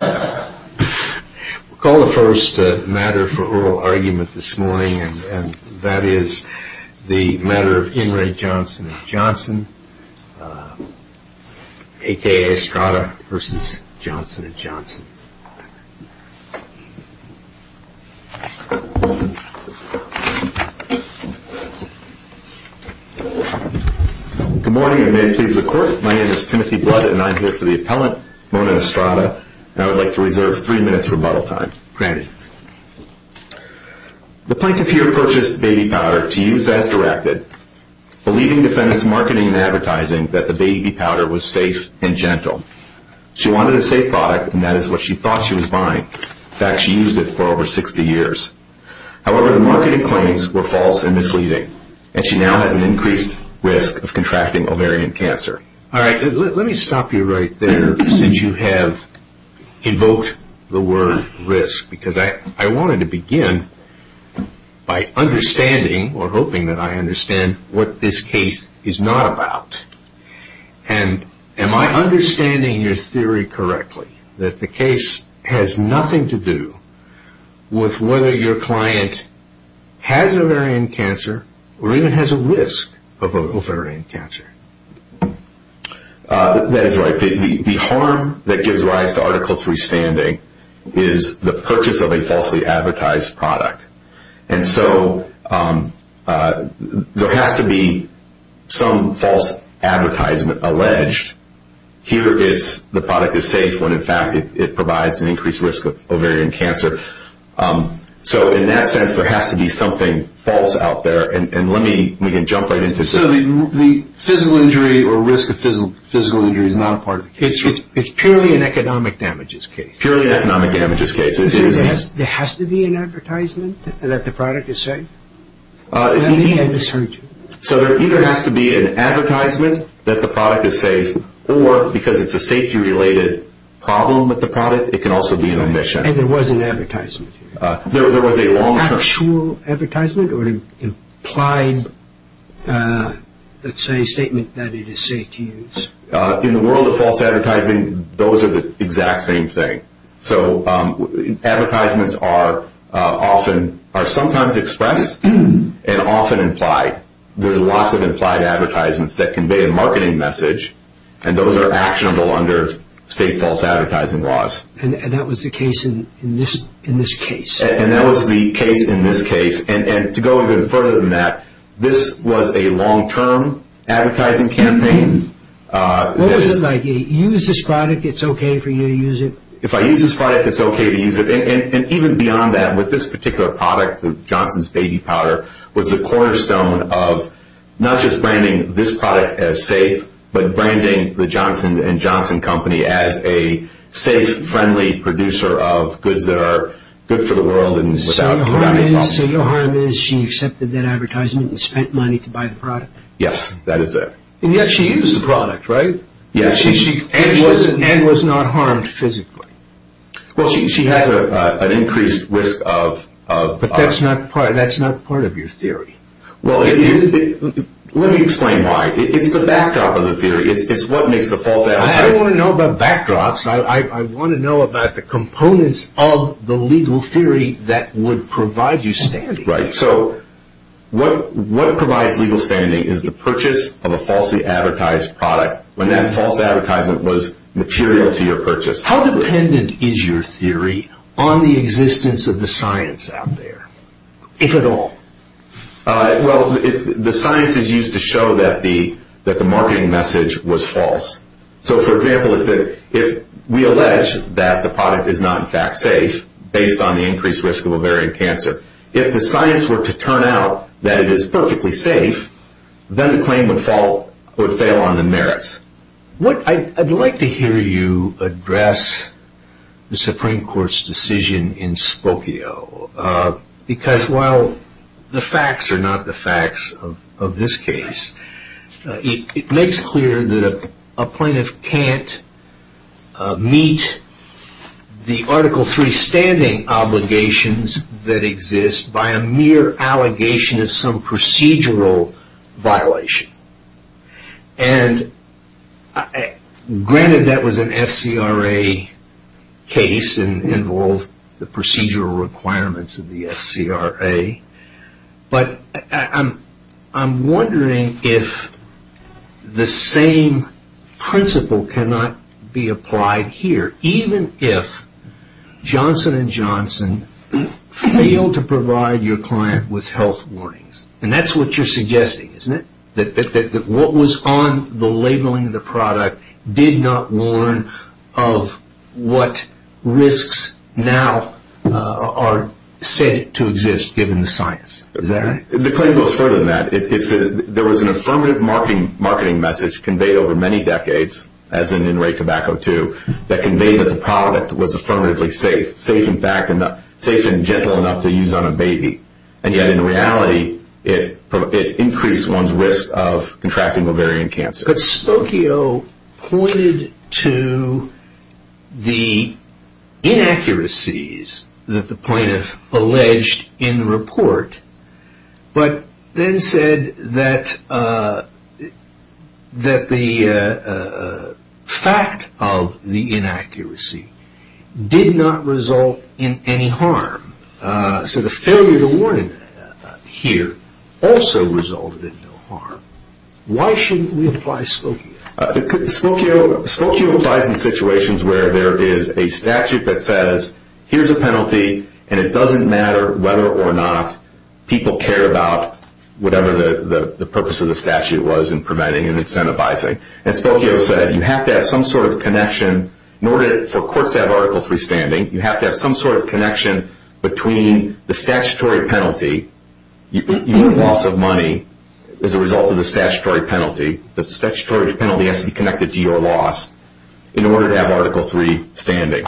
We'll call the first matter for oral argument this morning, and that is the matter of InRe Johnson&Johnson, a.k.a. Estrada v. Johnson&Johnson. Good morning, and may it please the Court. My name is Timothy Blood, and I'm here for the appellant, Mona Estrada, and I would like to reserve three minutes for rebuttal time. Granted. The plaintiff here purchased baby powder to use as directed, believing defendant's marketing and advertising that the baby powder was safe and gentle. She wanted a safe product, and that is what she thought she was buying. In fact, she used it for over 60 years. However, the marketing claims were false and misleading, and she now has an increased risk of contracting ovarian cancer. All right. Let me stop you right there since you have invoked the word risk, because I wanted to begin by understanding or hoping that I understand what this case is not about. And am I understanding your theory correctly, that the case has nothing to do with whether your client has ovarian cancer or even has a risk of ovarian cancer? That is right. The harm that gives rise to Article III standing is the purchase of a falsely advertised product. And so there has to be some false advertisement alleged. Here is the product is safe when, in fact, it provides an increased risk of ovarian cancer. So in that sense, there has to be something false out there. And let me jump right into it. So the physical injury or risk of physical injury is not part of the case? It's purely an economic damages case. Purely an economic damages case. There has to be an advertisement that the product is safe? You may have misheard you. So there either has to be an advertisement that the product is safe or because it's a safety-related problem with the product, it can also be an omission. And there was an advertisement? There was a long-term. Actual advertisement or an implied, let's say, statement that it is safe to use? In the world of false advertising, those are the exact same thing. So advertisements are sometimes expressed and often implied. There's lots of implied advertisements that convey a marketing message, and those are actionable under state false advertising laws. And that was the case in this case? And that was the case in this case. And to go even further than that, this was a long-term advertising campaign. What was it like? You use this product, it's okay for you to use it? If I use this product, it's okay to use it? And even beyond that, with this particular product, Johnson's Baby Powder, was the cornerstone of not just branding this product as safe, but branding the Johnson & Johnson Company as a safe, friendly producer of goods that are good for the world and without any problems. So your harm is she accepted that advertisement and spent money to buy the product? Yes, that is it. And yet she used the product, right? Yes. And was not harmed physically? Well, she has an increased risk of... But that's not part of your theory. Well, let me explain why. It's the backdrop of the theory. It's what makes the false advertising... I don't want to know about backdrops. I want to know about the components of the legal theory that would provide you standing. Right. So what provides legal standing is the purchase of a falsely advertised product. When that false advertisement was material to your purchase. How dependent is your theory on the existence of the science out there, if at all? Well, the science is used to show that the marketing message was false. So, for example, if we allege that the product is not, in fact, safe, based on the increased risk of ovarian cancer, if the science were to turn out that it is perfectly safe, then the claim would fall or fail on the merits. I'd like to hear you address the Supreme Court's decision in Spokio. Because while the facts are not the facts of this case, it makes clear that a plaintiff can't meet the Article III standing obligations that exist by a mere allegation of some procedural violation. And granted that was an FCRA case and involved the procedural requirements of the FCRA, but I'm wondering if the same principle cannot be applied here, even if Johnson & Johnson failed to provide your client with health warnings. And that's what you're suggesting, isn't it? That what was on the labeling of the product did not warn of what risks now are said to exist, given the science, is that right? The claim goes further than that. There was an affirmative marketing message conveyed over many decades, as in in rate tobacco too, that conveyed that the product was affirmatively safe, safe in fact and gentle enough to use on a baby. And yet in reality, it increased one's risk of contracting ovarian cancer. But Spokio pointed to the inaccuracies that the plaintiff alleged in the report, but then said that the fact of the inaccuracy did not result in any harm. So the failure to warn here also resulted in no harm. Why shouldn't we apply Spokio? Spokio applies in situations where there is a statute that says, here's a penalty, and it doesn't matter whether or not people care about whatever the purpose of the statute was in preventing and incentivizing. And Spokio said you have to have some sort of connection, in order for courts to have Article III standing, you have to have some sort of connection between the statutory penalty, even loss of money, as a result of the statutory penalty. The statutory penalty has to be connected to your loss in order to have Article III standing.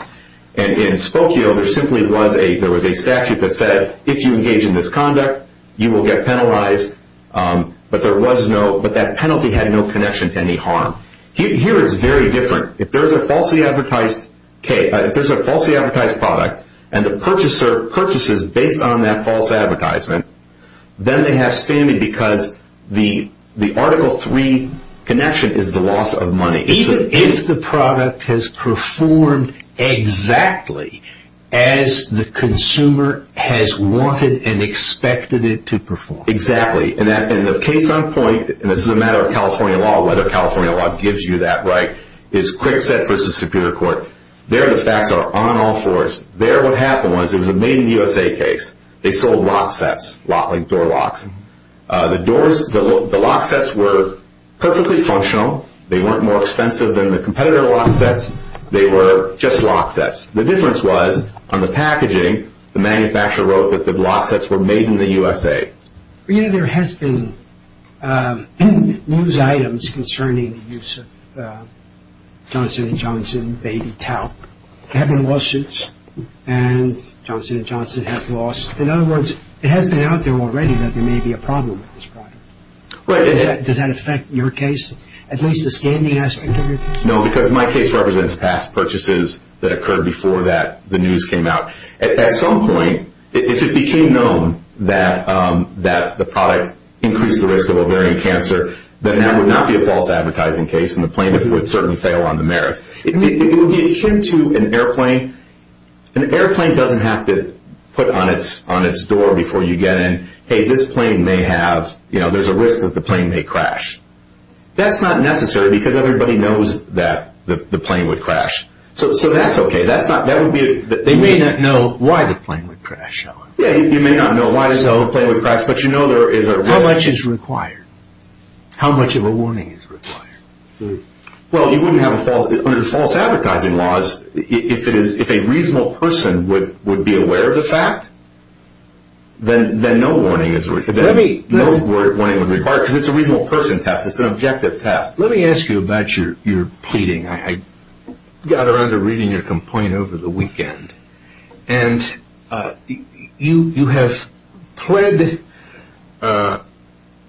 And in Spokio, there was a statute that said, if you engage in this conduct, you will get penalized, but that penalty had no connection to any harm. Here it's very different. If there's a falsely advertised product, and the purchaser purchases based on that false advertisement, then they have standing because the Article III connection is the loss of money. Even if the product has performed exactly as the consumer has wanted and expected it to perform. Exactly. And the case on point, and this is a matter of California law, whether California law gives you that right, is Quickset v. Superior Court. There the facts are on all fours. There what happened was, it was a made in the USA case. They sold lock sets, door locks. The lock sets were perfectly functional. They weren't more expensive than the competitor lock sets. They were just lock sets. The difference was, on the packaging, the manufacturer wrote that the lock sets were made in the USA. You know, there has been news items concerning the use of Johnson & Johnson baby towel. There have been lawsuits, and Johnson & Johnson has lost. In other words, it has been out there already that there may be a problem with this product. Right. Does that affect your case? At least the standing aspect of your case? No, because my case represents past purchases that occurred before the news came out. At some point, if it became known that the product increased the risk of ovarian cancer, then that would not be a false advertising case, and the plaintiff would certainly fail on the merits. It would be akin to an airplane. An airplane doesn't have to put on its door before you get in, and say, hey, this plane may have, you know, there's a risk that the plane may crash. That's not necessary, because everybody knows that the plane would crash. So that's okay. They may not know why the plane would crash, however. Yeah, you may not know why the plane would crash, but you know there is a risk. How much is required? How much of a warning is required? Well, you wouldn't have a false, under false advertising laws, if a reasonable person would be aware of the fact, then no warning is required, because it's a reasonable person test. It's an objective test. Let me ask you about your pleading. I got around to reading your complaint over the weekend, and you have pled a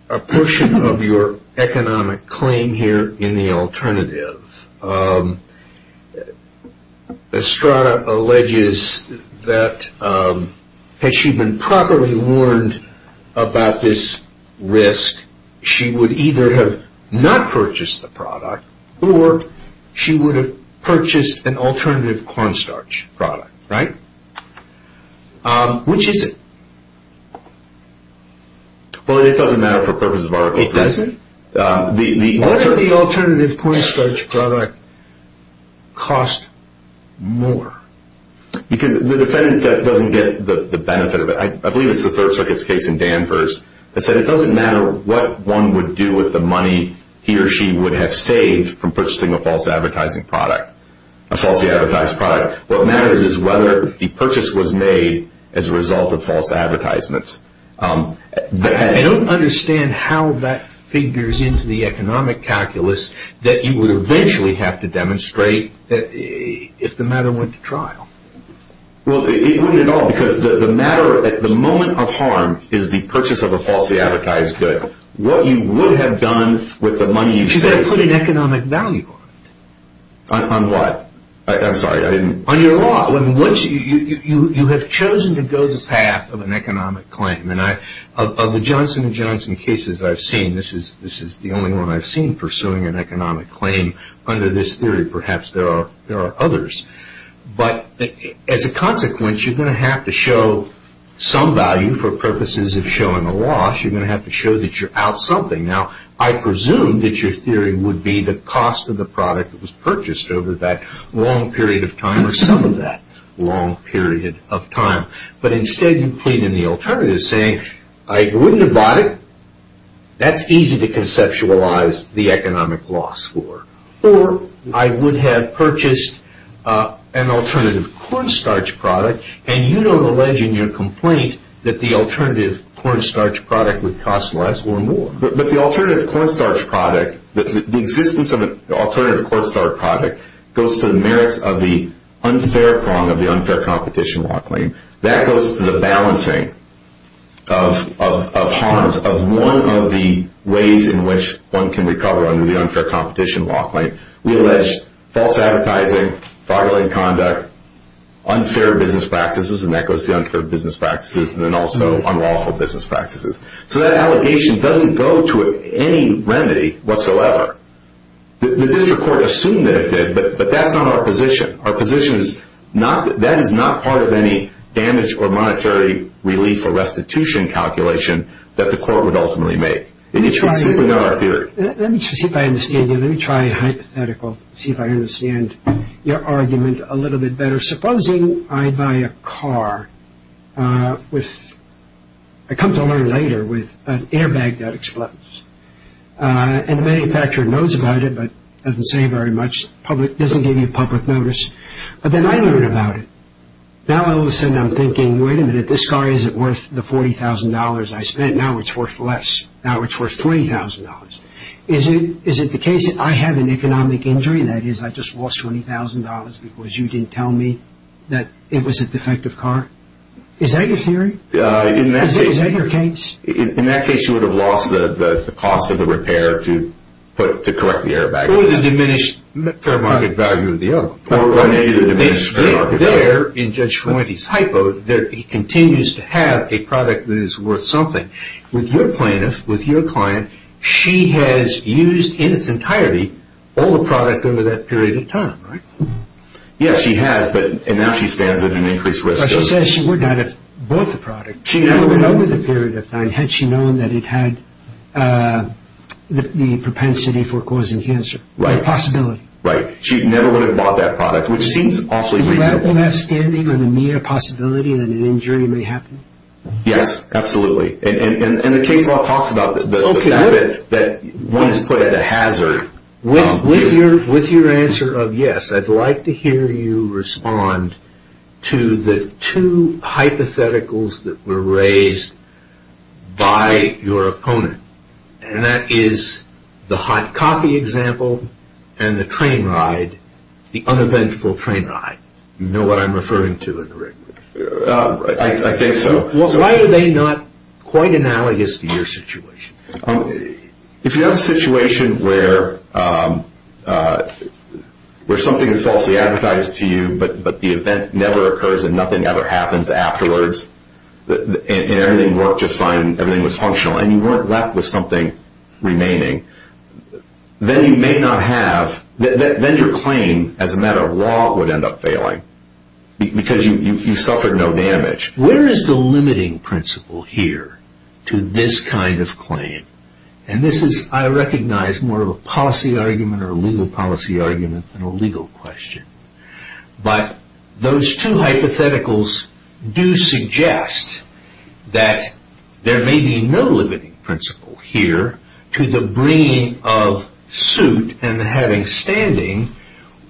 portion of your economic claim here in the alternative. Estrada alleges that had she been properly warned about this risk, she would either have not purchased the product, or she would have purchased an alternative cornstarch product, right? Which is it? Well, it doesn't matter for purposes of Article 3. It doesn't? Why would the alternative cornstarch product cost more? Because the defendant doesn't get the benefit of it. I believe it's the Third Circuit's case in Danvers that said it doesn't matter what one would do with the money he or she would have saved from purchasing a false advertising product, a falsely advertised product. What matters is whether the purchase was made as a result of false advertisements. I don't understand how that figures into the economic calculus that you would eventually have to demonstrate if the matter went to trial. Well, it wouldn't at all. Because the matter at the moment of harm is the purchase of a falsely advertised good. What you would have done with the money you saved... Because they put an economic value on it. On what? I'm sorry, I didn't... On your law. You have chosen to go this path of an economic claim. Of the Johnson & Johnson cases I've seen, this is the only one I've seen pursuing an economic claim under this theory. Perhaps there are others. But as a consequence, you're going to have to show some value for purposes of showing a loss. You're going to have to show that you're out something. Now, I presume that your theory would be the cost of the product that was purchased over that long period of time or some of that long period of time. But instead, you plead in the alternative saying, I wouldn't have bought it. That's easy to conceptualize the economic loss for. Or, I would have purchased an alternative cornstarch product and you don't allege in your complaint that the alternative cornstarch product would cost less or more. But the alternative cornstarch product, the existence of an alternative cornstarch product goes to the merits of the unfair prong of the unfair competition law claim. That goes to the balancing of harms of one of the ways in which one can recover under the unfair competition law claim. We allege false advertising, fraudulent conduct, unfair business practices, and that goes to unfair business practices, and then also unlawful business practices. So that allegation doesn't go to any remedy whatsoever. The district court assumed that it did, but that's not our position. Our position is that that is not part of any damage or monetary relief or restitution calculation that the court would ultimately make. It's simply not our theory. Let me see if I understand you. Let me try a hypothetical, see if I understand your argument a little bit better. Supposing I buy a car with, I come to learn later, with an airbag that explodes. And the manufacturer knows about it, but doesn't say very much, doesn't give you public notice. But then I learn about it. Now all of a sudden I'm thinking, wait a minute, this car isn't worth the $40,000 I spent. Now it's worth less. Now it's worth $30,000. Is it the case that I have an economic injury, that is I just lost $20,000 because you didn't tell me that it was a defective car? Is that your theory? Is that your case? In that case you would have lost the cost of the repair to correct the airbag. Or the diminished fair market value of the airbag. Or maybe the diminished fair market value. There, in Judge Ferointi's hypo, he continues to have a product that is worth something. With your plaintiff, with your client, she has used in its entirety all the product over that period of time, right? Yes, she has, and now she stands at an increased risk. But she says she would not have bought the product over the period of time had she known that it had the propensity for causing cancer, or the possibility. Right. She never would have bought that product, which seems awfully reasonable. Is that the last standing, or the mere possibility that an injury may happen? Yes, absolutely. And the case law talks about that, that one is put at a hazard. With your answer of yes, I'd like to hear you respond to the two hypotheticals that were raised by your opponent. And that is the hot coffee example and the train ride, the uneventful train ride. You know what I'm referring to indirectly. I think so. Why are they not quite analogous to your situation? If you're in a situation where something is falsely advertised to you, but the event never occurs and nothing ever happens afterwards, and everything worked just fine and everything was functional, and you weren't left with something remaining, then your claim as a matter of law would end up failing, because you suffered no damage. Where is the limiting principle here to this kind of claim? And this is, I recognize, more of a policy argument or a legal policy argument than a legal question. But those two hypotheticals do suggest that there may be no limiting principle here to the bringing of suit and having standing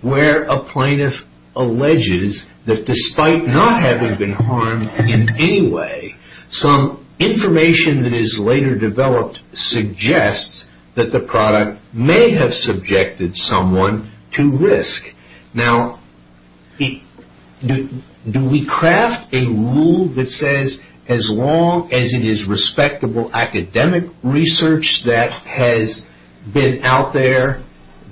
where a plaintiff alleges that despite not having been harmed in any way, some information that is later developed suggests that the product may have subjected someone to risk. Now, do we craft a rule that says as long as it is respectable academic research that has been out there,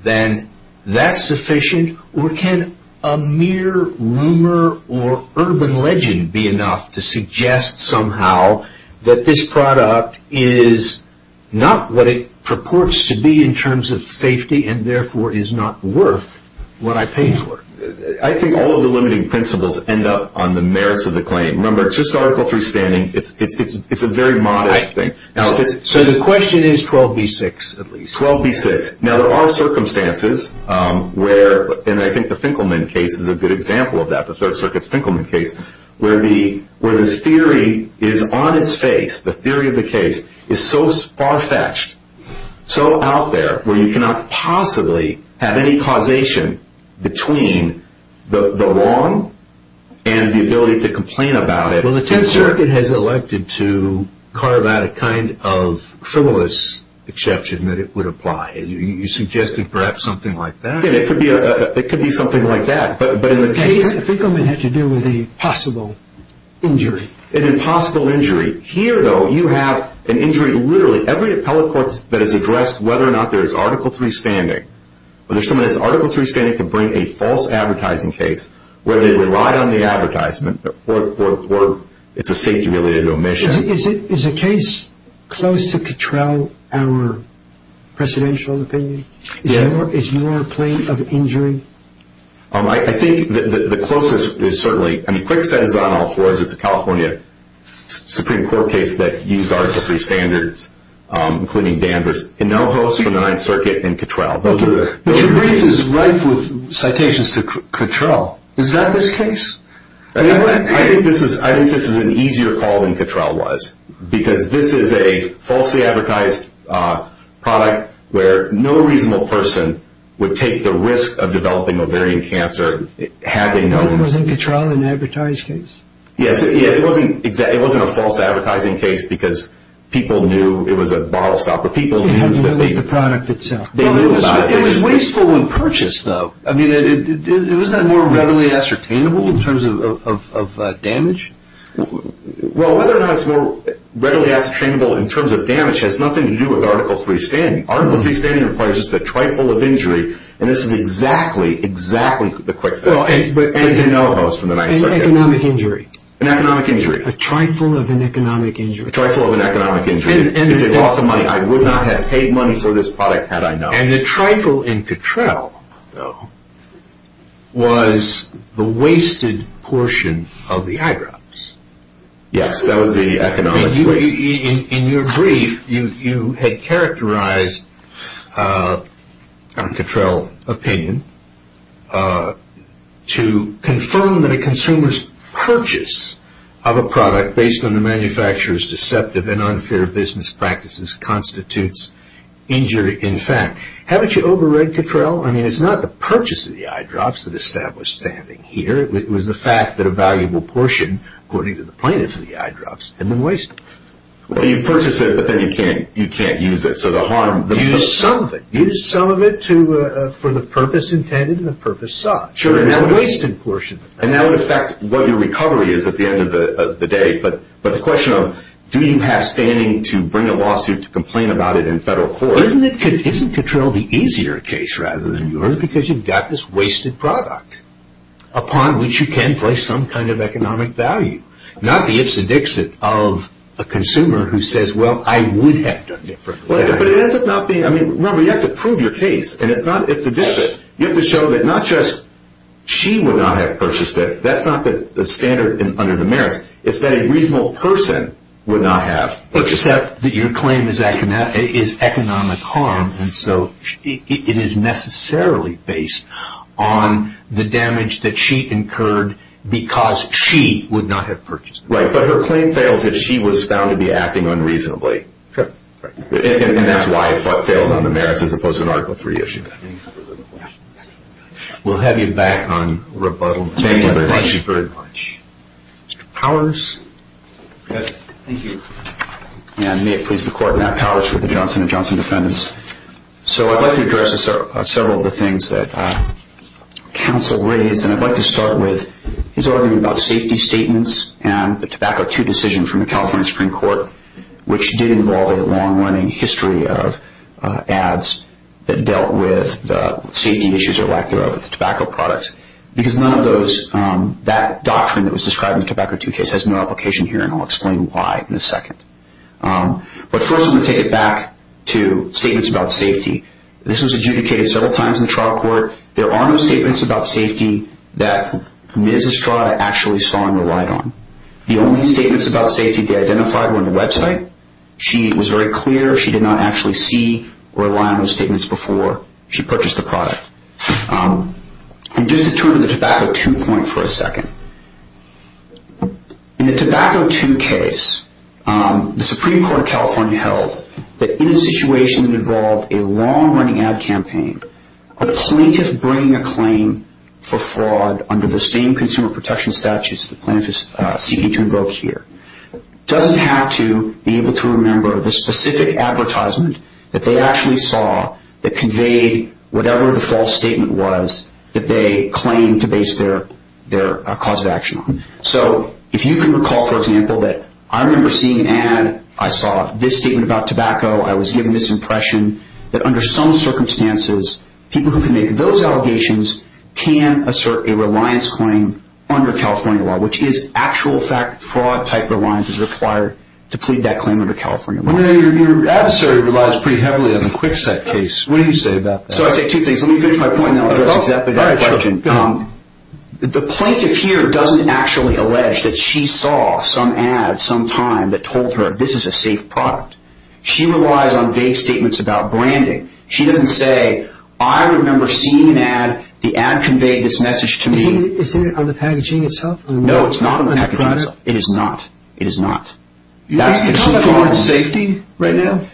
then that's sufficient? Or can a mere rumor or urban legend be enough to suggest somehow that this product is not what it purports to be in terms of safety and therefore is not worth what I paid for? I think all of the limiting principles end up on the merits of the claim. Remember, it's just Article III standing. It's a very modest thing. So the question is 12b-6 at least. 12b-6. Now, there are circumstances where, and I think the Finkelman case is a good example of that, the Third Circuit's Finkelman case, where the theory is on its face, the theory of the case is so far-fetched, so out there, where you cannot possibly have any causation between the wrong and the ability to complain about it. Well, the Tenth Circuit has elected to carve out a kind of frivolous exception that it would apply. You suggested perhaps something like that? It could be something like that, but in the case... The Finkelman had to do with a possible injury. An impossible injury. Here, though, you have an injury. Literally every appellate court that has addressed whether or not there is Article III standing, whether someone has Article III standing to bring a false advertising case where they relied on the advertisement or it's a safety-related omission. Is a case close to control our precedential opinion? Yeah. Is your claim of injury? I think the closest is certainly... There was a second court case that used Article III standards, including Danvers, and no host from the Ninth Circuit in control. But your brief is rife with citations to control. Is that this case? I think this is an easier call than control was, because this is a falsely advertised product where no reasonable person would take the risk of developing ovarian cancer had they known... No one was in control in the advertised case? Yes. It wasn't a false advertising case because people knew it was a bottle stopper. People knew that they... It had to do with the product itself. They knew about it. It was wasteful when purchased, though. I mean, isn't that more readily ascertainable in terms of damage? Well, whether or not it's more readily ascertainable in terms of damage has nothing to do with Article III standing. Article III standing requires just a trifle of injury, and this is exactly, exactly the quicksand case. And no host from the Ninth Circuit. An economic injury. An economic injury. A trifle of an economic injury. A trifle of an economic injury. It's a loss of money. I would not have paid money for this product had I known. And the trifle in Cattrell, though, was the wasted portion of the eyebrows. Yes, that was the economic waste. In your brief, you had characterized Cattrell opinion to confirm that a consumer's purchase of a product based on the manufacturer's deceptive and unfair business practices constitutes injury in fact. Haven't you over-read Cattrell? I mean, it's not the purchase of the eye drops that established standing here. It was the fact that a valuable portion, according to the plaintiffs of the eye drops, had been wasted. Well, you purchase it, but then you can't use it. Use something. Use some of it for the purpose intended and the purpose sought. It's a wasted portion. And that would affect what your recovery is at the end of the day. But the question of do you have standing to bring a lawsuit to complain about it in federal court. Isn't Cattrell the easier case rather than yours because you've got this wasted product upon which you can place some kind of economic value? Not the ips and dixit of a consumer who says, well, I would have done differently. But it ends up not being. I mean, remember, you have to prove your case. And it's not ips and dixit. You have to show that not just she would not have purchased it. That's not the standard under the merits. It's that a reasonable person would not have. Except that your claim is economic harm. And so it is necessarily based on the damage that she incurred because she would not have purchased it. Right. But her claim fails if she was found to be acting unreasonably. And that's why it failed on the merits as opposed to the Article 3 issue. We'll have you back on rebuttal. Thank you very much. Thank you very much. Mr. Powers. Yes. Thank you. May it please the Court. Matt Powers with the Johnson & Johnson Defendants. So I'd like to address several of the things that counsel raised. And I'd like to start with his argument about safety statements and the Tobacco II decision from the California Supreme Court, which did involve a long-running history of ads that dealt with the safety issues or lack thereof with the tobacco products. Because none of those, that doctrine that was described in the Tobacco II case, has no application here, and I'll explain why in a second. But first I'm going to take it back to statements about safety. This was adjudicated several times in the trial court. There are no statements about safety that Ms. Estrada actually saw and relied on. The only statements about safety they identified were on the website. She was very clear. She did not actually see or rely on those statements before she purchased the product. And just to turn to the Tobacco II point for a second. In the Tobacco II case, the Supreme Court of California held that in a situation that involved a long-running ad campaign, a plaintiff bringing a claim for fraud under the same consumer protection statutes the plaintiff is seeking to invoke here doesn't have to be able to remember the specific advertisement that they actually saw that conveyed whatever the false statement was that they claimed to base their cause of action on. So if you can recall, for example, that I remember seeing an ad. I saw this statement about tobacco. I was given this impression that under some circumstances, people who can make those allegations can assert a reliance claim under California law, which is actual fraud-type reliance is required to plead that claim under California law. Your adversary relies pretty heavily on the Kwikset case. What do you say about that? So I say two things. Let me finish my point and then I'll address exactly that question. The plaintiff here doesn't actually allege that she saw some ad some time that told her this is a safe product. She relies on vague statements about branding. She doesn't say, I remember seeing an ad. The ad conveyed this message to me. Is it on the packaging itself? No, it's not on the packaging. It is not. It is not. Are you talking about safety right now?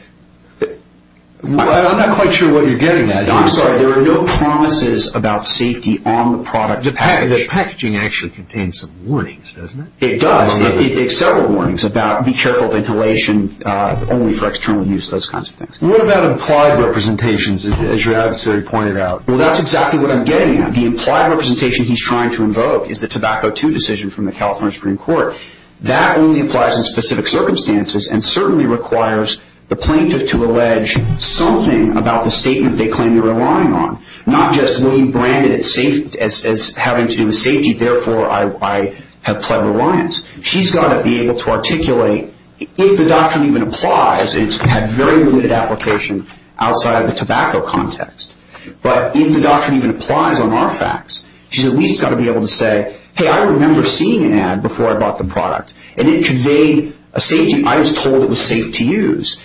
I'm not quite sure what you're getting at. I'm sorry. There are no promises about safety on the product. The packaging actually contains some warnings, doesn't it? It does. There are several warnings about be careful of inhalation, only for external use, those kinds of things. What about implied representations, as your adversary pointed out? Well, that's exactly what I'm getting at. The implied representation he's trying to invoke is the Tobacco II decision from the California Supreme Court. That only applies in specific circumstances and certainly requires the plaintiff to allege something about the statement they claim they're relying on, not just being branded as having to do with safety, therefore I have pled reliance. She's got to be able to articulate, if the doctrine even applies, it's had very limited application outside of the tobacco context, but if the doctrine even applies on our facts, she's at least got to be able to say, hey, I remember seeing an ad before I bought the product, and it conveyed a safety. I was told it was safe to use.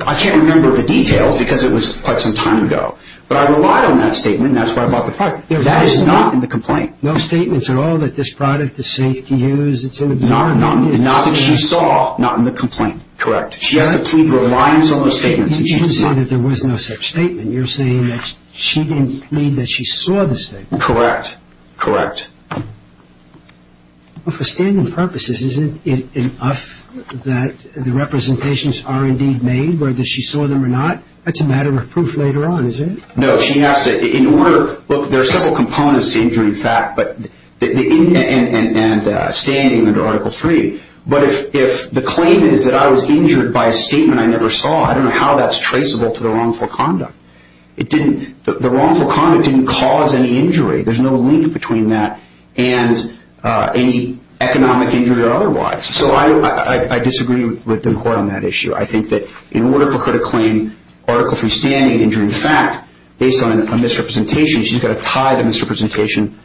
I can't remember the details because it was quite some time ago, but I rely on that statement, and that's why I bought the product. That is not in the complaint. No statements at all that this product is safe to use. It's in the complaint. Not that she saw, not in the complaint. Correct. She has to plead reliance on the statements that she saw. You didn't say that there was no such statement. You're saying that she didn't mean that she saw the statement. Correct. Correct. For standing purposes, isn't it enough that the representations are indeed made, whether she saw them or not? That's a matter of proof later on, isn't it? No. Look, there are several components to injury in fact and standing under Article 3, but if the claim is that I was injured by a statement I never saw, I don't know how that's traceable to the wrongful conduct. The wrongful conduct didn't cause any injury. There's no link between that and any economic injury or otherwise. So I disagree with the court on that issue. I think that in order for her to claim Article 3 standing injury in fact, based on a misrepresentation, she's got to tie the misrepresentation.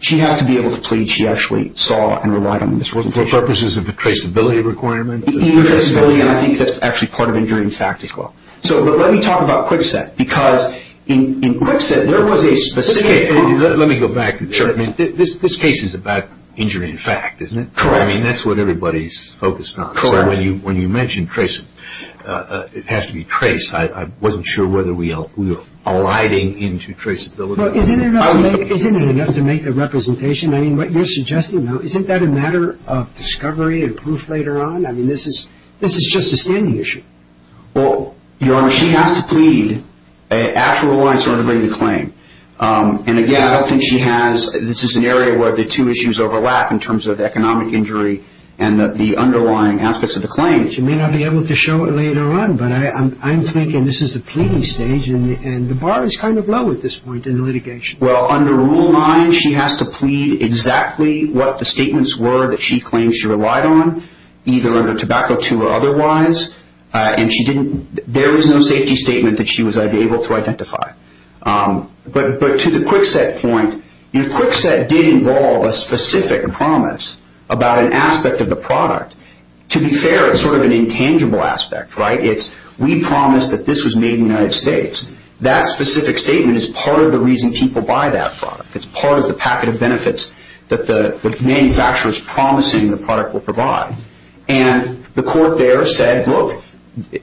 She has to be able to plead she actually saw and relied on the misrepresentation. For purposes of the traceability requirement? Traceability, I think that's actually part of injury in fact as well. But let me talk about Kwikset, because in Kwikset there was a specific... Let me go back. Sure. This case is about injury in fact, isn't it? Correct. I mean, that's what everybody's focused on. Correct. So when you mentioned tracing, it has to be traced. I wasn't sure whether we were aligning into traceability. Well, isn't it enough to make a representation? I mean, what you're suggesting now, isn't that a matter of discovery and proof later on? I mean, this is just a standing issue. Well, Your Honor, she has to plead... Actually relies on her to bring the claim. And again, I don't think she has... This is an area where the two issues overlap in terms of economic injury and the underlying aspects of the claim. She may not be able to show it later on, but I'm thinking this is the pleading stage and the bar is kind of low at this point in the litigation. Well, under Rule 9, she has to plead exactly what the statements were that she claims she relied on, either under Tobacco II or otherwise. And there was no safety statement that she was able to identify. But to the Kwikset point, Kwikset did involve a specific promise about an aspect of the product. To be fair, it's sort of an intangible aspect, right? It's, we promised that this was made in the United States. That specific statement is part of the reason people buy that product. It's part of the packet of benefits that the manufacturer is promising the product will provide. And the court there said, look,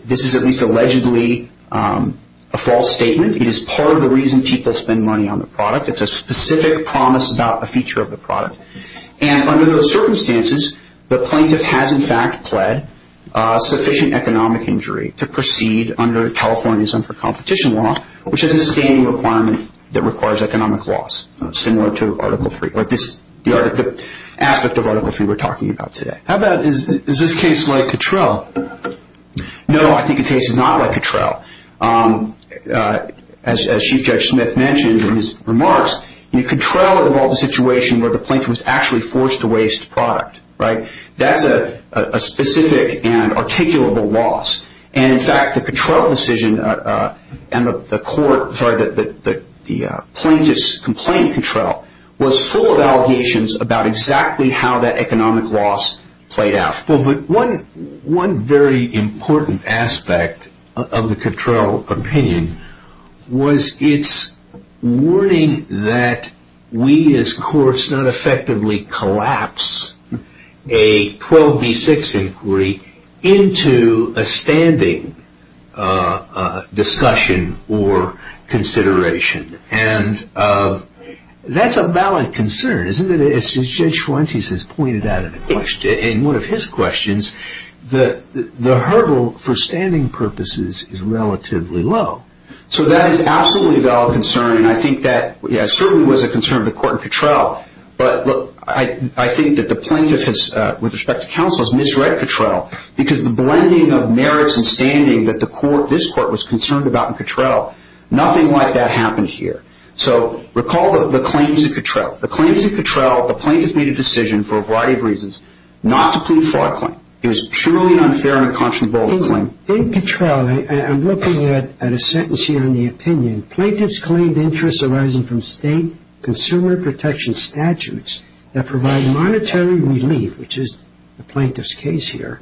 this is at least allegedly a false statement. It is part of the reason people spend money on the product. It's a specific promise about a feature of the product. And under those circumstances, the plaintiff has in fact pled sufficient economic injury to proceed under California's unfair competition law, which is a standing requirement that requires economic loss, similar to Article III, the aspect of Article III we're talking about today. How about, is this case like Cattrell? No, I think the case is not like Cattrell. As Chief Judge Smith mentioned in his remarks, you know, Cattrell involved a situation where the plaintiff was actually forced to waste product, right? That's a specific and articulable loss. And in fact, the Cattrell decision and the court, sorry, the plaintiff's complaint, Cattrell, was full of allegations about exactly how that economic loss played out. Well, but one very important aspect of the Cattrell opinion was its warning that we as courts not effectively collapse a 12B6 inquiry into a standing discussion or consideration. And that's a valid concern, isn't it, as Judge Fuentes has pointed out in a question that the hurdle for standing purposes is relatively low. So that is absolutely a valid concern, and I think that, yeah, it certainly was a concern of the court in Cattrell, but I think that the plaintiff has, with respect to counsel, has misread Cattrell because the blending of merits and standing that this court was concerned about in Cattrell, nothing like that happened here. So recall the claims in Cattrell. The claims in Cattrell, the plaintiff made a decision for a variety of reasons not to plead for a claim. It was purely an unfair and unconscionable claim. In Cattrell, and I'm looking at a sentence here in the opinion, plaintiffs claimed interests arising from state consumer protection statutes that provide monetary relief, which is the plaintiff's case here,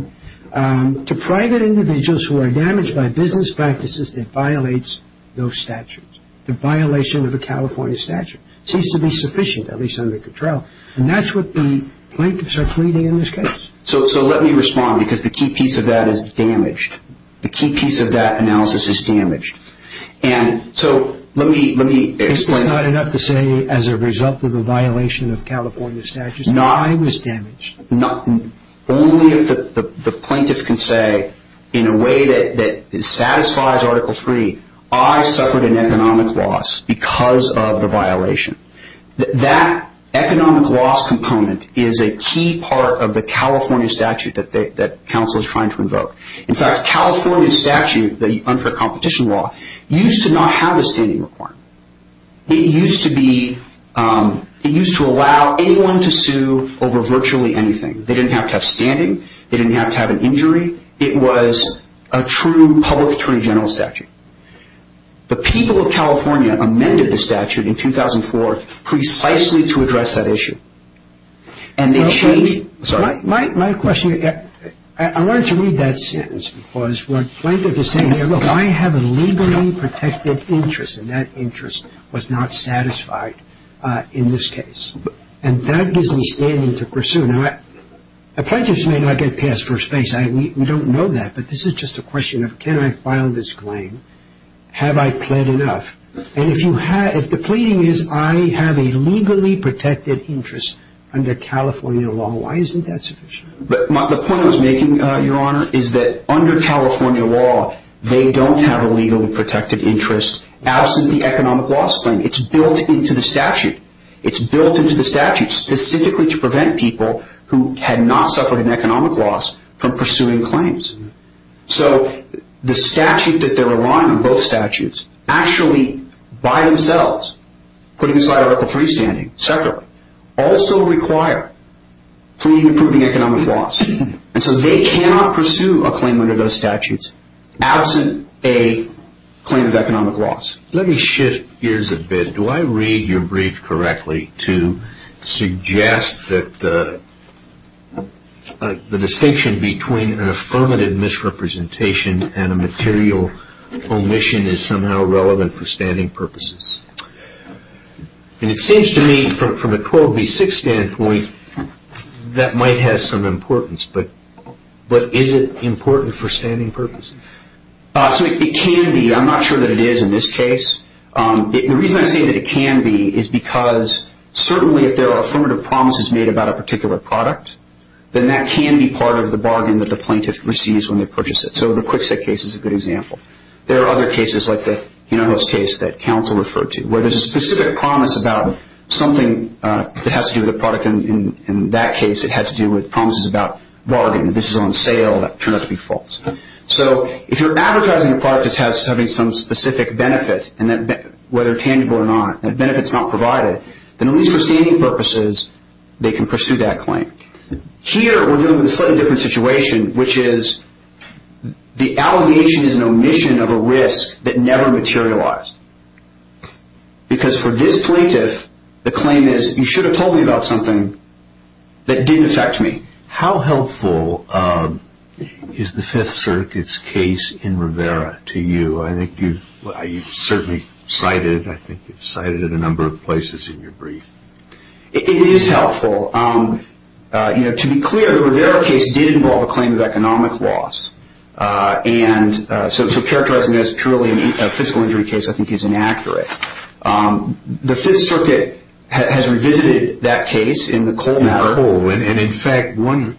to private individuals who are damaged by business practices that violates those statutes, the violation of a California statute. It seems to be sufficient, at least under Cattrell. And that's what the plaintiffs are pleading in this case. So let me respond because the key piece of that is damaged. The key piece of that analysis is damaged. And so let me explain. It's not enough to say as a result of the violation of California statutes that I was damaged. Only if the plaintiff can say in a way that satisfies Article III, I suffered an economic loss because of the violation. That economic loss component is a key part of the California statute that counsel is trying to invoke. In fact, California statute, the unfair competition law, used to not have a standing requirement. It used to allow anyone to sue over virtually anything. They didn't have to have standing. They didn't have to have an injury. It was a true public attorney general statute. The people of California amended the statute in 2004 precisely to address that issue. And they changed it. My question, I wanted to read that sentence because what the plaintiff is saying here, look, I have a legally protected interest, and that interest was not satisfied in this case. And that gives me standing to pursue. Now, plaintiffs may not get passed first base. We don't know that. But this is just a question of can I file this claim? Have I pled enough? And if the pleading is I have a legally protected interest under California law, why isn't that sufficient? The point I was making, Your Honor, is that under California law, they don't have a legally protected interest absent the economic loss claim. It's built into the statute. It's built into the statute specifically to prevent people who had not suffered an economic loss from pursuing claims. So the statute that they're relying on, both statutes, actually by themselves, putting aside Article III standing separately, also require pleading to prove an economic loss. And so they cannot pursue a claim under those statutes absent a claim of economic loss. Let me shift gears a bit. Do I read your brief correctly to suggest that the distinction between an affirmative misrepresentation and a material omission is somehow relevant for standing purposes? And it seems to me, from a 12B6 standpoint, that might have some importance. But is it important for standing purposes? It can be. I'm not sure that it is in this case. The reason I say that it can be is because, certainly, if there are affirmative promises made about a particular product, then that can be part of the bargain that the plaintiff receives when they purchase it. So the Kwikset case is a good example. There are other cases, like the Hinojosa case that counsel referred to, where there's a specific promise about something that has to do with the product. In that case, it had to do with promises about bargaining. This is on sale. That turned out to be false. So if you're advertising a product that's having some specific benefit, whether tangible or not, that benefit's not provided, then at least for standing purposes, they can pursue that claim. Here, we're dealing with a slightly different situation, which is the allegation is an omission of a risk that never materialized. Because for this plaintiff, the claim is, you should have told me about something that didn't affect me. How helpful is the Fifth Circuit's case in Rivera to you? I think you've certainly cited it. I think you've cited it a number of places in your brief. It is helpful. To be clear, the Rivera case did involve a claim of economic loss. So characterizing it as purely a fiscal injury case, I think, is inaccurate. The Fifth Circuit has revisited that case in the Cole matter. In fact, one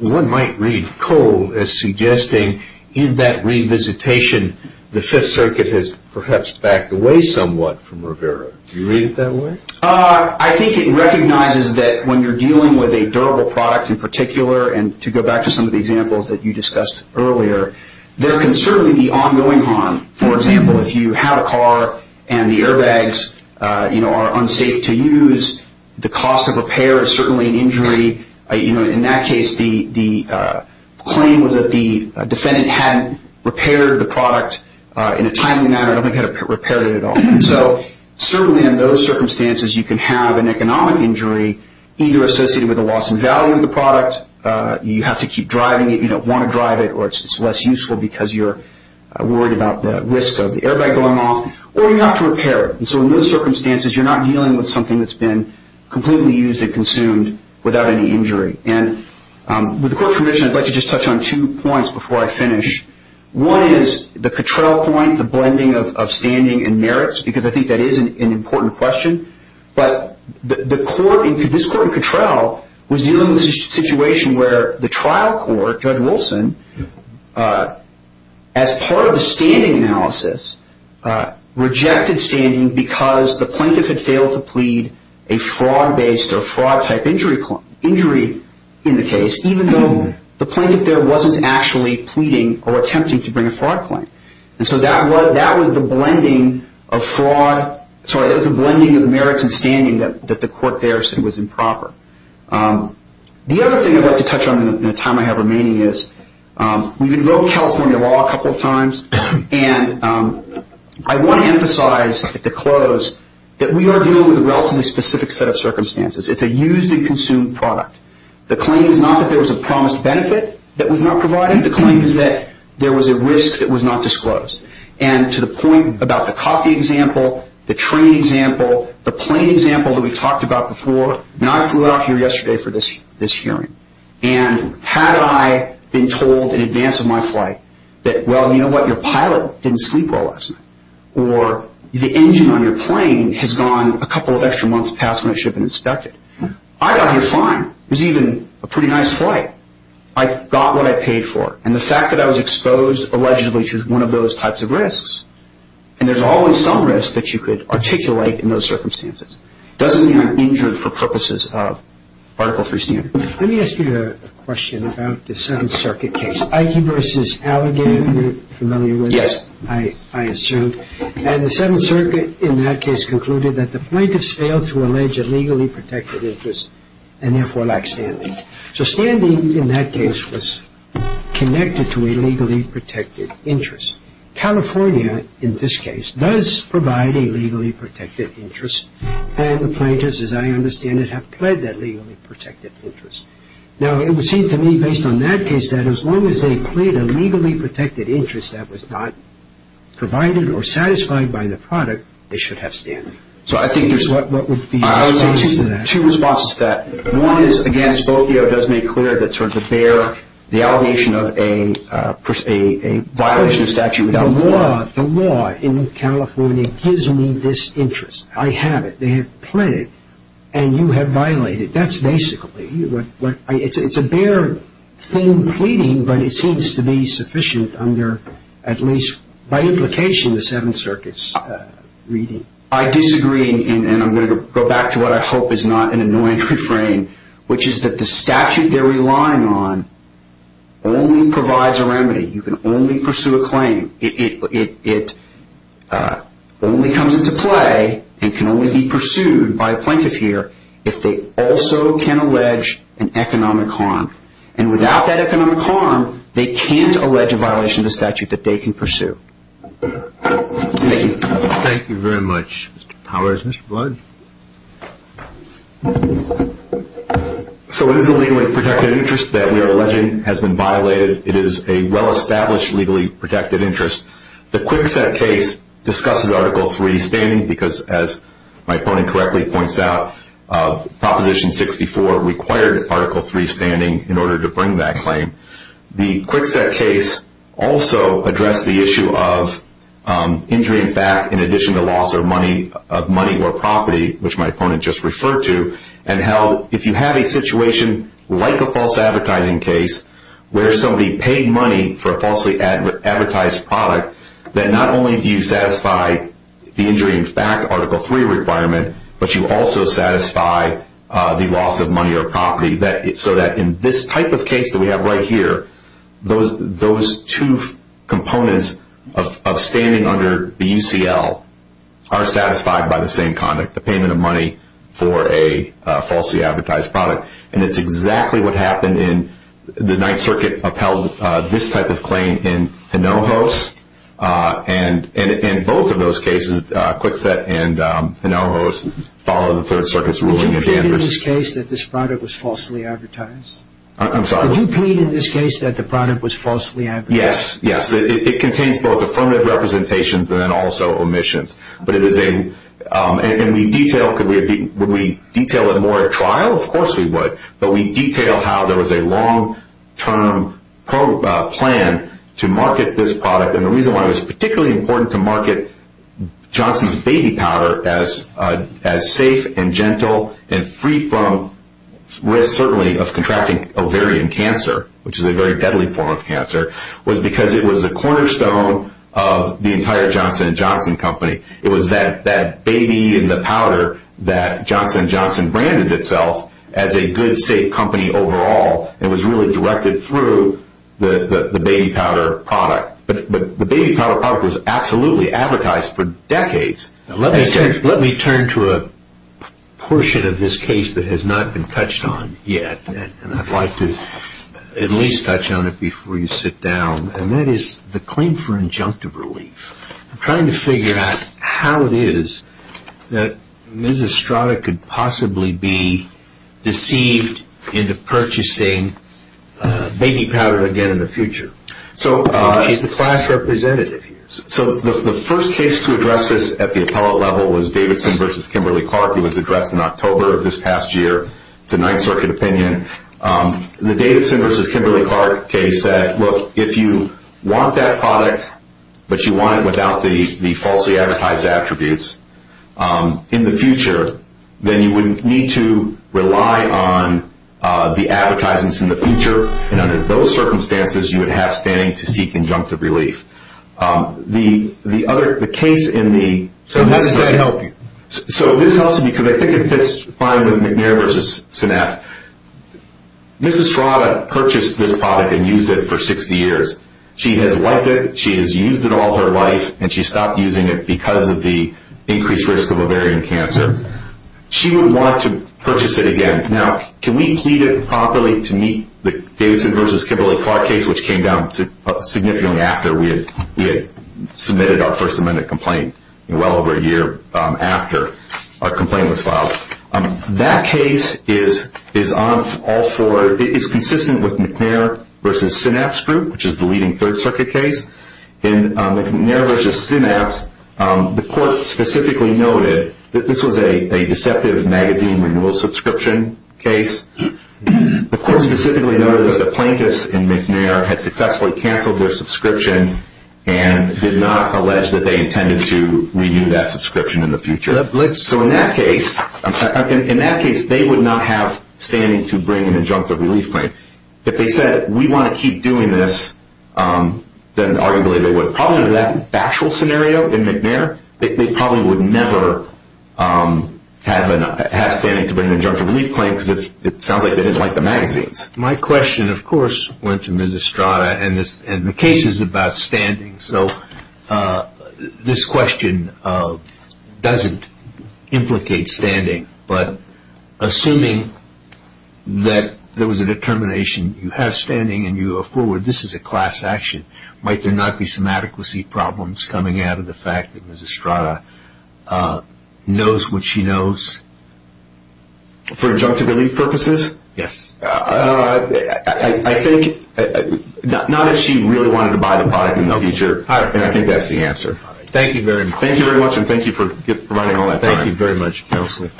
might read Cole as suggesting in that revisitation, the Fifth Circuit has perhaps backed away somewhat from Rivera. Do you read it that way? I think it recognizes that when you're dealing with a durable product in particular, and to go back to some of the examples that you discussed earlier, there can certainly be ongoing harm. For example, if you have a car and the airbags are unsafe to use, the cost of repair is certainly an injury. In that case, the claim was that the defendant hadn't repaired the product in a timely manner, nothing had repaired it at all. So certainly in those circumstances, you can have an economic injury, either associated with a loss in value of the product, you have to keep driving it, you don't want to drive it, or it's less useful because you're worried about the risk of the airbag going off, or you have to repair it. And so in those circumstances, you're not dealing with something that's been completely used and consumed without any injury. And with the Court's permission, I'd like to just touch on two points before I finish. One is the Cottrell point, the blending of standing and merits, because I think that is an important question. But this Court in Cottrell was dealing with a situation where the trial court, Judge Wilson, as part of the standing analysis, rejected standing because the plaintiff had failed to plead a fraud-based or fraud-type injury in the case, even though the plaintiff there wasn't actually pleading or attempting to bring a fraud claim. And so that was the blending of merits and standing that the Court there said was improper. The other thing I'd like to touch on in the time I have remaining is we've invoked California law a couple of times, and I want to emphasize at the close that we are dealing with a relatively specific set of circumstances. It's a used and consumed product. The claim is not that there was a promised benefit that was not provided. The claim is that there was a risk that was not disclosed. And to the point about the coffee example, the train example, the plane example that we talked about before, and I flew out here yesterday for this hearing, and had I been told in advance of my flight that, well, you know what, your pilot didn't sleep well last night, or the engine on your plane has gone a couple of extra months past when it should have been inspected, I got here fine. It was even a pretty nice flight. I got what I paid for. And the fact that I was exposed allegedly to one of those types of risks, and there's always some risk that you could articulate in those circumstances, doesn't mean you're injured for purposes of Article III standards. Let me ask you a question about the Seventh Circuit case. Ike versus Allegan, you're familiar with. Yes. I assume. And the Seventh Circuit in that case concluded that the plaintiff failed to allege a legally protected interest and therefore lacked standing. So standing in that case was connected to a legally protected interest. California, in this case, does provide a legally protected interest, and the plaintiffs, as I understand it, have pled that legally protected interest. Now, it would seem to me, based on that case, that as long as they pled a legally protected interest that was not provided or satisfied by the product, they should have standing. So I think there's what would be your response to that? I would say two responses to that. One is, again, Spokio does make clear that sort of the bare, the allegation of a violation of statute without law. The law in California gives me this interest. I have it. They have pled it, and you have violated it. That's basically what I – it's a bare thing pleading, but it seems to be sufficient under at least by implication the Seventh Circuit's reading. I disagree, and I'm going to go back to what I hope is not an annoying refrain, which is that the statute they're relying on only provides a remedy. You can only pursue a claim. It only comes into play and can only be pursued by a plaintiff here if they also can allege an economic harm. And without that economic harm, they can't allege a violation of the statute that they can pursue. Thank you. Thank you very much, Mr. Powers. Mr. Blood? So it is a legally protected interest that we are alleging has been violated. It is a well-established legally protected interest. The Kwikset case discusses Article III standing because, as my opponent correctly points out, Proposition 64 required Article III standing in order to bring that claim. The Kwikset case also addressed the issue of injury in fact in addition to loss of money or property, which my opponent just referred to, and held if you have a situation like a false advertising case where somebody paid money for a falsely advertised product, that not only do you satisfy the injury in fact Article III requirement, but you also satisfy the loss of money or property. So that in this type of case that we have right here, those two components of standing under the UCL are satisfied by the same conduct, the payment of money for a falsely advertised product. And it's exactly what happened in the Ninth Circuit upheld this type of claim in Hinojos. And both of those cases, Kwikset and Hinojos, followed the Third Circuit's ruling in Danvers. Would you plead in this case that this product was falsely advertised? I'm sorry? Would you plead in this case that the product was falsely advertised? Yes, yes. It contains both affirmative representations and then also omissions. But it is a – and we detail – could we – would we detail it more at trial? Of course we would. But we detail how there was a long-term plan to market this product and the reason why it was particularly important to market Johnson's Baby Powder as safe and gentle and free from risk, certainly, of contracting ovarian cancer, which is a very deadly form of cancer, was because it was a cornerstone of the entire Johnson & Johnson company. It was that baby in the powder that Johnson & Johnson branded itself as a good, safe company overall and was really directed through the Baby Powder product. But the Baby Powder product was absolutely advertised for decades. Let me turn to a portion of this case that has not been touched on yet, and I'd like to at least touch on it before you sit down, and that is the claim for injunctive relief. I'm trying to figure out how it is that Ms. Estrada could possibly be deceived into purchasing Baby Powder again in the future. She's the class representative here. The first case to address this at the appellate level was Davidson v. Kimberly-Clark. It was addressed in October of this past year. It's a Ninth Circuit opinion. The Davidson v. Kimberly-Clark case said, look, if you want that product but you want it without the falsely advertised attributes in the future, then you would need to rely on the advertisements in the future, and under those circumstances you would have standing to seek injunctive relief. So how does that help you? So this helps me because I think it fits fine with McNair v. Synapt. Ms. Estrada purchased this product and used it for 60 years. She has liked it, she has used it all her life, and she stopped using it because of the increased risk of ovarian cancer. She would want to purchase it again. Now, can we plead it properly to meet the Davidson v. Kimberly-Clark case, which came down significantly after we had submitted our First Amendment complaint, well over a year after our complaint was filed? That case is consistent with McNair v. Synapt's group, which is the leading Third Circuit case. In McNair v. Synapt, the court specifically noted that this was a deceptive magazine renewal subscription case. The court specifically noted that the plaintiffs in McNair had successfully canceled their subscription and did not allege that they intended to renew that subscription in the future. So in that case, they would not have standing to bring an injunctive relief claim. If they said, we want to keep doing this, then arguably they would. So probably in that actual scenario in McNair, they probably would never have standing to bring an injunctive relief claim because it sounds like they didn't like the magazines. My question, of course, went to Ms. Estrada, and the case is about standing. So this question doesn't implicate standing, but assuming that there was a determination you have standing and you are forward, this is a class action. Might there not be some adequacy problems coming out of the fact that Ms. Estrada knows what she knows? For injunctive relief purposes? Yes. I think not that she really wanted to buy the body in the future, and I think that's the answer. Thank you very much. Thank you very much, and thank you for providing all that time. Thank you very much, counsel.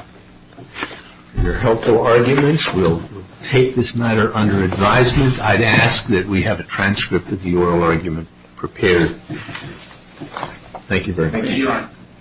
Your helpful arguments will take this matter under advisement. I'd ask that we have a transcript of the oral argument prepared. Thank you very much. Thank you, Your Honor.